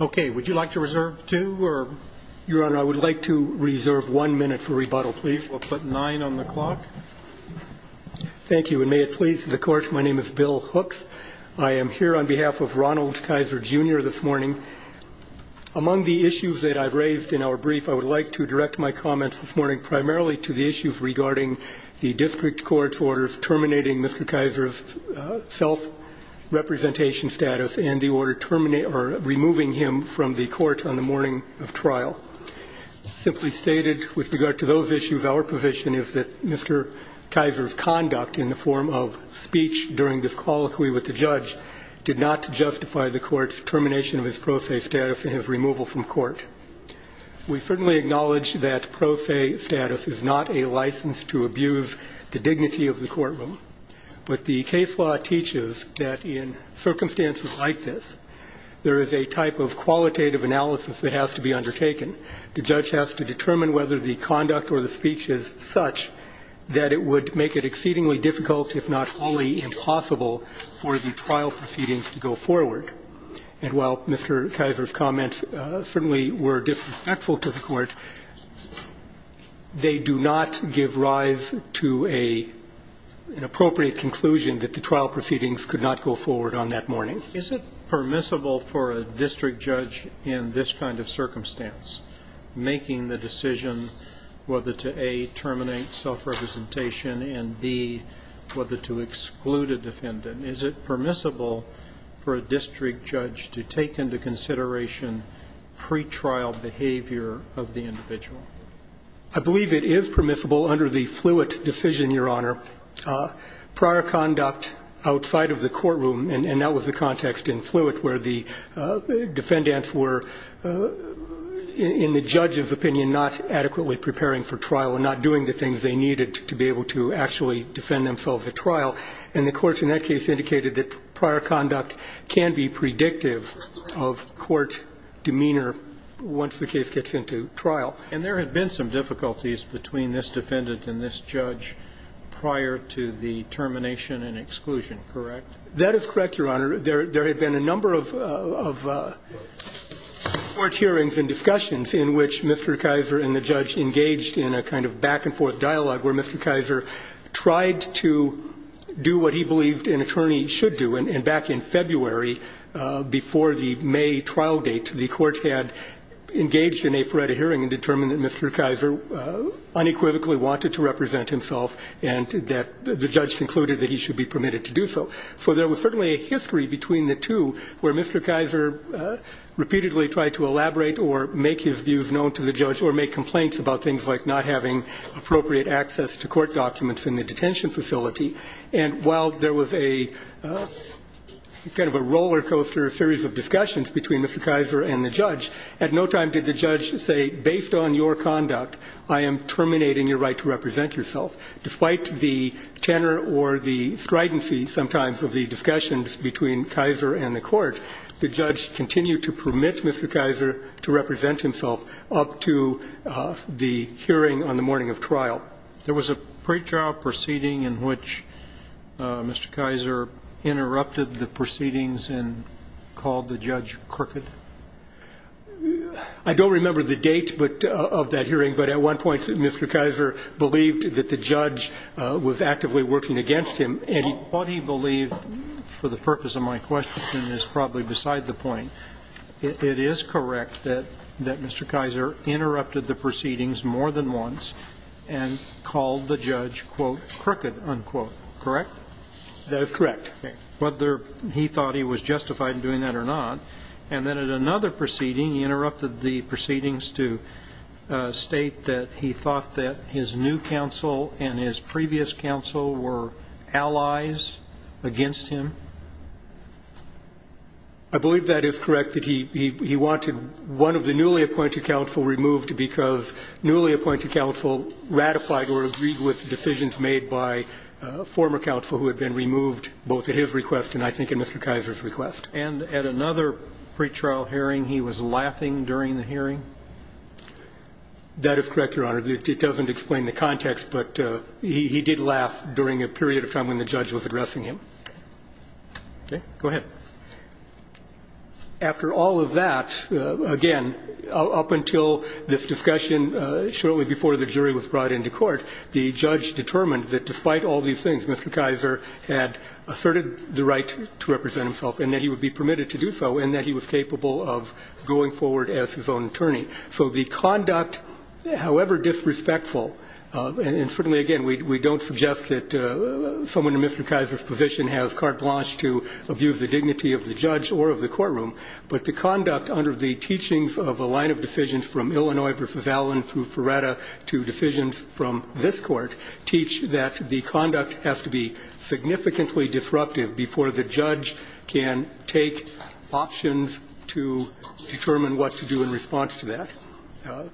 Okay, would you like to reserve two, or? Your Honor, I would like to reserve one minute for rebuttal, please. We'll put nine on the clock. Thank you. And may it please the Court, my name is Bill Hooks. I am here on behalf of Ronald Kaiser Jr. this morning. Among the issues that I've raised in our brief, I would like to direct my comments this morning primarily to the issues regarding the district court's orders terminating Mr. Kaiser's self-representation status and the order removing him from the court on the morning of trial. Simply stated, with regard to those issues, our position is that Mr. Kaiser's conduct in the form of speech during this colloquy with the judge did not justify the court's termination of his pro se status and his removal from court. We certainly acknowledge that pro se status is not a license to abuse the dignity of the courtroom, but the case law teaches that in circumstances like this, there is a type of qualitative analysis that has to be undertaken. The judge has to determine whether the conduct or the speech is such that it would make it exceedingly difficult, if not wholly impossible, for the trial proceedings to go forward. And while Mr. Kaiser's comments certainly were disrespectful to the court, they do not give rise to an appropriate conclusion that the trial proceedings could not go forward on that morning. Is it permissible for a district judge in this kind of circumstance, making the decision whether to A, terminate self-representation, and B, whether to exclude a defendant? Is it permissible for a district judge to take into consideration pretrial behavior of the individual? I believe it is permissible under the Fluitt decision, Your Honor. Prior conduct outside of the courtroom, and that was the context in Fluitt where the defendants were, in the judge's opinion, not adequately preparing for trial and not doing the things they needed to be able to actually defend themselves at trial. And the courts in that case indicated that prior conduct can be predictive of court demeanor once the case gets into trial. And there had been some difficulties between this defendant and this judge prior to the termination and exclusion, correct? That is correct, Your Honor. There had been a number of court hearings and discussions in which Mr. Kaiser and the judge engaged in a kind of back-and-forth dialogue where Mr. Kaiser tried to do what he believed an attorney should do. And back in February, before the May trial date, the court had engaged in a FORETA hearing and determined that Mr. Kaiser unequivocally wanted to represent himself and that the judge concluded that he should be permitted to do so. So there was certainly a history between the two where Mr. Kaiser repeatedly tried to elaborate or make his views known to the judge or make complaints about things like not having appropriate access to court documents in the detention facility. And while there was a kind of a rollercoaster series of discussions between Mr. Kaiser and the judge, at no time did the judge say, based on your conduct, I am terminating your right to represent yourself. Despite the tenor or the stridency sometimes of the discussions between Kaiser and the court, the judge continued to permit Mr. Kaiser to represent himself up to the hearing on the morning of trial. There was a pretrial proceeding in which Mr. Kaiser interrupted the proceedings and called the judge crooked. I don't remember the date, but of that hearing, but at one point Mr. Kaiser believed that the judge was actively working against him. What he believed, for the purpose of my question, is probably beside the point. It is correct that Mr. Kaiser interrupted the proceedings more than once and called the judge, quote, crooked, unquote, correct? That is correct. Whether he thought he was justified in doing that or not. And then at another proceeding he interrupted the proceedings to state that he thought that his new counsel and his previous counsel were allies against him. I believe that is correct, that he wanted one of the newly appointed counsel removed because newly appointed counsel ratified or agreed with decisions made by former counsel who had been removed both at his request and I think at Mr. Kaiser's request. And at another pretrial hearing he was laughing during the hearing? That is correct, Your Honor. It doesn't explain the context, but he did laugh during a period of time when the judge was addressing him. Okay. Go ahead. After all of that, again, up until this discussion shortly before the jury was brought into court, the judge determined that despite all of these things, Mr. Kaiser had asserted the right to represent himself and that he would be permitted to do so and that he was capable of going forward as his own attorney. So the conduct, however disrespectful, and certainly, again, we don't suggest that someone in Mr. Kaiser's position has carte blanche to abuse the dignity of the judge or of the courtroom, but the conduct under the teachings of a line of decisions from Illinois v. Allen through Ferretta to decisions from this Court teach that the conduct has to be significantly disruptive before the judge can take options to determine what to do in response to that.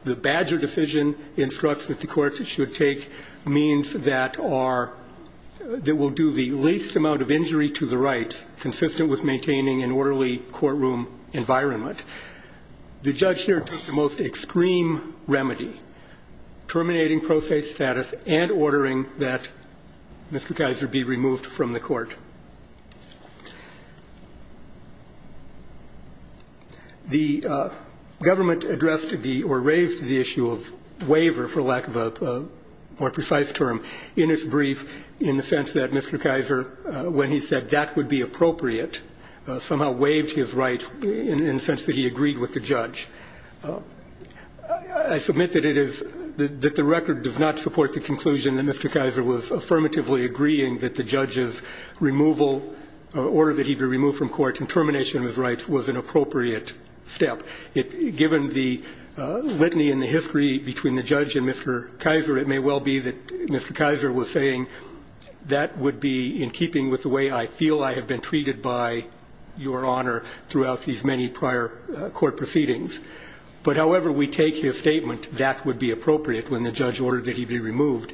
The Badger decision instructs that the Court should take means that are that will do the least amount of injury to the rights consistent with maintaining an orderly courtroom environment. The judge here took the most extreme remedy, terminating pro se status and ordering that Mr. Kaiser be removed from the Court. The government addressed the or raised the issue of waiver, for lack of a more precise term, in its brief in the sense that Mr. Kaiser, when he said that would be appropriate, somehow waived his rights in the sense that he agreed with the judge. I submit that it is that the record does not support the conclusion that Mr. Kaiser was affirmatively agreeing that the judge's removal, order that he be removed from court and termination of his rights was an appropriate step. Given the litany and the history between the judge and Mr. Kaiser, it may well be that Mr. Kaiser was saying that would be in keeping with the way I feel I have been treated by your honor throughout these many prior court proceedings. But however we take his statement, that would be appropriate when the judge ordered that he be removed.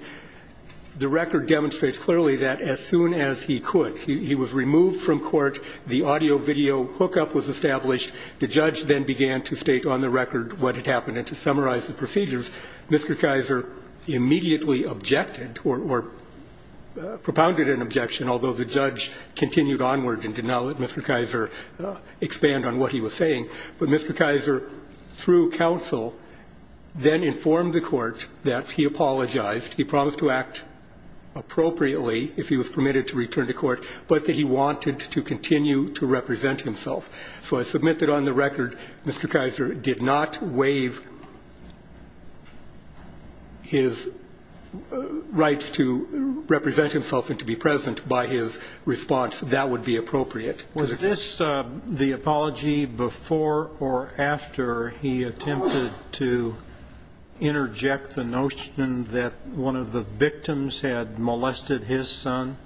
The record demonstrates clearly that as soon as he could, he was removed from court, the audio-video hookup was established, the judge then began to state on the record what had happened. And to summarize the procedures, Mr. Kaiser immediately objected or propounded an objection, although the judge continued onward and did not let Mr. Kaiser expand on what he was saying. But Mr. Kaiser, through counsel, then informed the court that he apologized, he promised to act appropriately if he was permitted to return to court, but that he wanted to continue to represent himself. So I submit that on the record, Mr. Kaiser did not waive his rights to represent himself and to be present by his response. That would be appropriate. Was this the apology before or after he attempted to interject the notion that one of the victims had molested his son?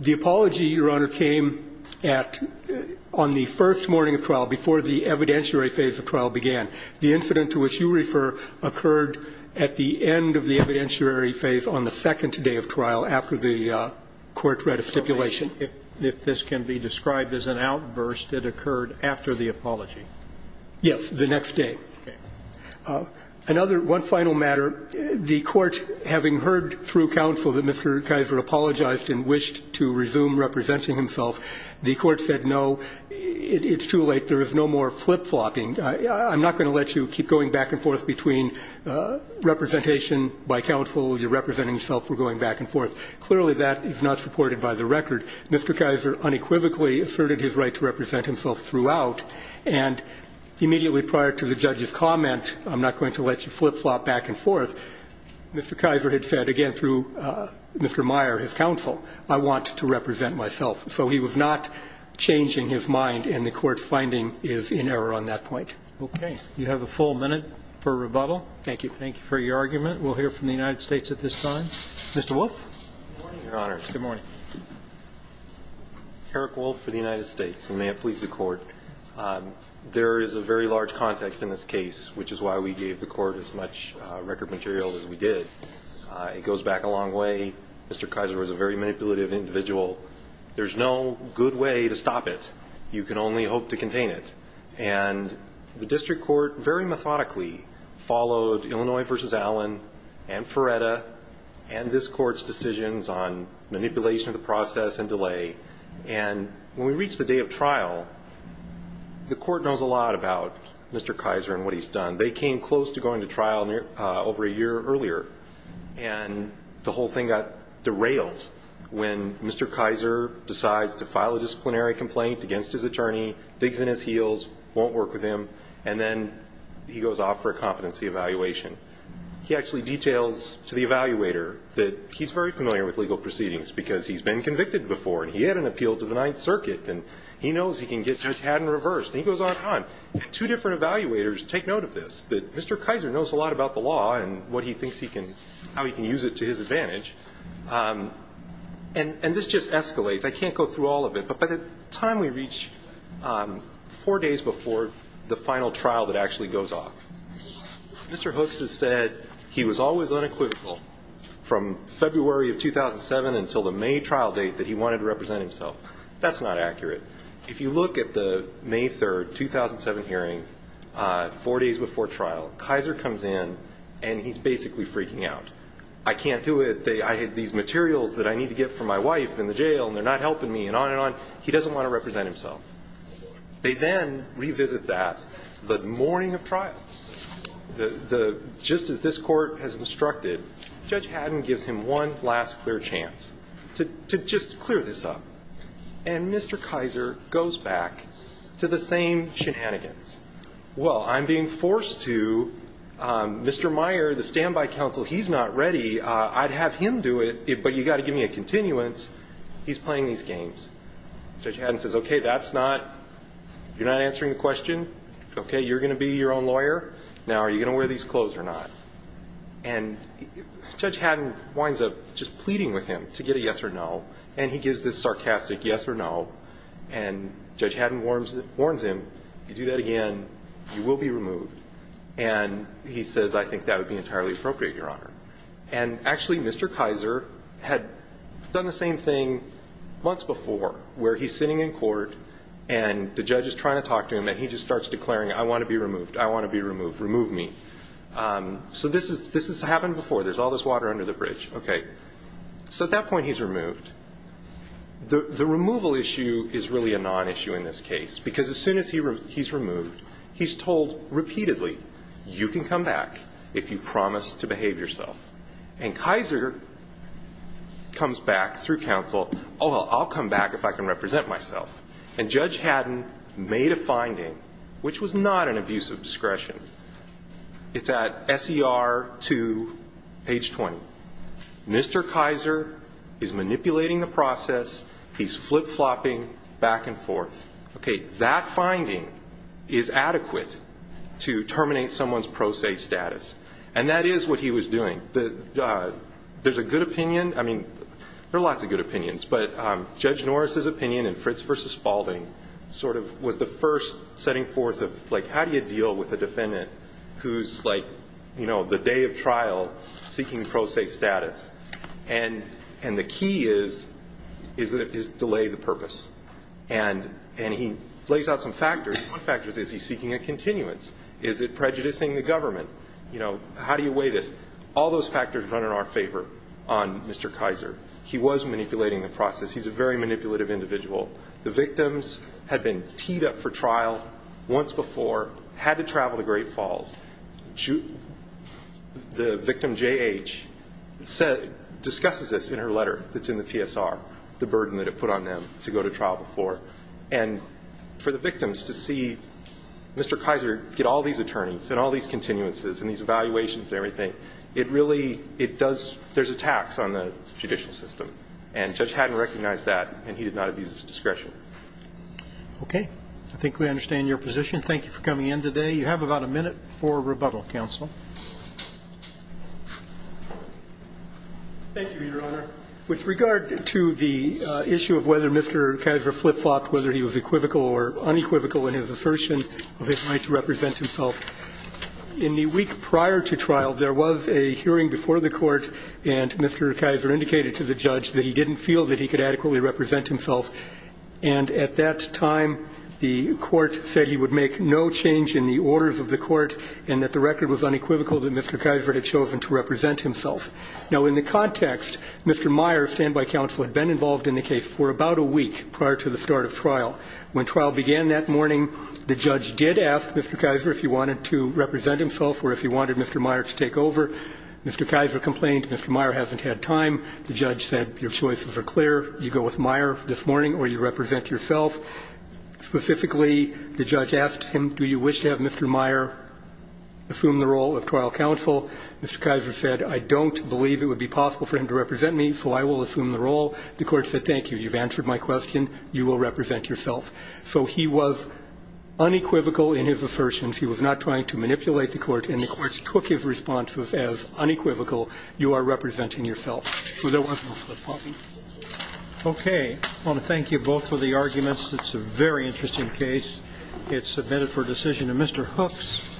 The apology, Your Honor, came at the first morning of trial, before the evidentiary phase of trial began. The incident to which you refer occurred at the end of the evidentiary phase on the second day of trial after the court read a stipulation. If this can be described as an outburst, it occurred after the apology? Yes, the next day. Okay. One final matter. The court, having heard through counsel that Mr. Kaiser apologized and wished to resume representing himself, the court said, no, it's too late. There is no more flip-flopping. I'm not going to let you keep going back and forth between representation by counsel, you're representing yourself, we're going back and forth. Clearly, that is not supported by the record. Mr. Kaiser unequivocally asserted his right to represent himself throughout, and immediately prior to the judge's comment, I'm not going to let you flip-flop back and forth, Mr. Kaiser had said, again, through Mr. Meyer, his counsel, I want to represent myself. So he was not changing his mind, and the court's finding is in error on that point. Okay. You have a full minute for rebuttal. Thank you. Thank you for your argument. We'll hear from the United States at this time. Mr. Wolf? Good morning, Your Honor. Good morning. Eric Wolf for the United States, and may it please the Court. There is a very large context in this case, which is why we gave the Court as much record material as we did. It goes back a long way. Mr. Kaiser was a very manipulative individual. There's no good way to stop it. You can only hope to contain it. And the district court very methodically followed Illinois v. Allen and Ferretta and this Court's decisions on manipulation of the process and delay. And when we reach the day of trial, the Court knows a lot about Mr. Kaiser and what he's done. They came close to going to trial over a year earlier, and the whole thing got derailed when Mr. Kaiser decides to file a disciplinary complaint against his attorney, digs in his heels, won't work with him, and then he goes off for a competency evaluation. He actually details to the evaluator that he's very familiar with legal proceedings because he's been convicted before, and he had an appeal to the Ninth Circuit, and he knows he can get a tad in reverse, and he goes on and on. Two different evaluators take note of this, that Mr. Kaiser knows a lot about the law and how he can use it to his advantage. And this just escalates. I can't go through all of it, but by the time we reach four days before the final trial that actually goes off, Mr. Hooks has said he was always unequivocal from February of 2007 until the May trial date that he wanted to represent himself. That's not accurate. If you look at the May 3, 2007 hearing, four days before trial, Kaiser comes in and he's basically freaking out. I can't do it. I have these materials that I need to get from my wife in the jail, and they're not helping me, and on and on. He doesn't want to represent himself. They then revisit that the morning of trial. Just as this court has instructed, Judge Haddon gives him one last clear chance to just clear this up, and Mr. Kaiser goes back to the same shenanigans. Well, I'm being forced to. Mr. Meyer, the standby counsel, he's not ready. I'd have him do it, but you've got to give me a continuance. He's playing these games. Judge Haddon says, okay, that's not you're not answering the question. Okay, you're going to be your own lawyer. Now are you going to wear these clothes or not? And Judge Haddon winds up just pleading with him to get a yes or no, and he gives this sarcastic yes or no, and Judge Haddon warns him, if you do that again, you will be removed. And he says, I think that would be entirely appropriate, Your Honor. And actually, Mr. Kaiser had done the same thing months before, where he's sitting in court, and the judge is trying to talk to him, and he just starts declaring, I want to be removed. I want to be removed. Remove me. So this has happened before. There's all this water under the bridge. Okay. So at that point, he's removed. The removal issue is really a nonissue in this case, because as soon as he's removed, he's told repeatedly, you can come back if you promise to behave yourself. And Kaiser comes back through counsel, oh, well, I'll come back if I can represent myself. And Judge Haddon made a finding, which was not an abuse of discretion. It's at SER 2, page 20. Mr. Kaiser is manipulating the process. He's flip-flopping back and forth. Okay. That finding is adequate to terminate someone's pro se status. And that is what he was doing. There's a good opinion. I mean, there are lots of good opinions. But Judge Norris's opinion in Fritz v. Spalding sort of was the first setting forth of, like, how do you deal with a defendant who's, like, you know, the day of trial, seeking pro se status? And the key is delay the purpose. And he lays out some factors. One factor is, is he seeking a continuance? Is it prejudicing the government? You know, how do you weigh this? All those factors run in our favor on Mr. Kaiser. He was manipulating the process. He's a very manipulative individual. The victims had been teed up for trial once before, had to travel to Great Falls. The victim, J.H., discusses this in her letter that's in the PSR, the burden that it put on them to go to trial before. And for the victims to see Mr. Kaiser get all these attorneys and all these continuances and these evaluations and everything, it really, it does, there's a tax on the judicial system. And Judge Haddon recognized that, and he did not abuse his discretion. Roberts. Okay. I think we understand your position. Thank you for coming in today. You have about a minute for rebuttal, counsel. Thank you, Your Honor. With regard to the issue of whether Mr. Kaiser flip-flopped, whether he was equivocal or unequivocal in his assertion of his right to represent himself, in the week prior to trial, there was a hearing before the court, and Mr. Kaiser indicated to the judge that he didn't feel that he could adequately represent himself. And at that time, the court said he would make no change in the orders of the court and that the record was unequivocal that Mr. Kaiser had chosen to represent himself. Now, in the context, Mr. Meyer, standby counsel, had been involved in the case for about a week prior to the start of trial. When trial began that morning, the judge did ask Mr. Kaiser if he wanted to represent himself or if he wanted Mr. Meyer to take over. Mr. Kaiser complained Mr. Meyer hasn't had time. The judge said your choices are clear. You go with Meyer this morning or you represent yourself. Specifically, the judge asked him, do you wish to have Mr. Meyer assume the role of trial counsel? Mr. Kaiser said, I don't believe it would be possible for him to represent me, so I will assume the role. The court said, thank you. You've answered my question. You will represent yourself. So he was unequivocal in his assertions. He was not trying to manipulate the court, and the courts took his responses as unequivocal. You are representing yourself. So there was no flip-flopping. Okay. I want to thank you both for the arguments. It's a very interesting case. It's submitted for decision. And Mr. Hooks,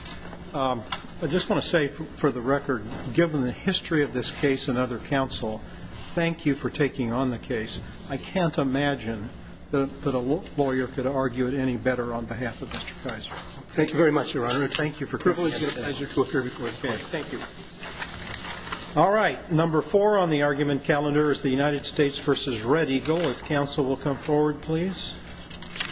I just want to say for the record, given the history of this case and other counsel, thank you for taking on the case. I can't imagine that a lawyer could argue it any better on behalf of Mr. Kaiser. Thank you very much, Your Honor. Thank you for coming. It's a pleasure to appear before the court. Thank you. All right. Number four on the argument calendar is the United States v. Red Eagle. If counsel will come forward, please.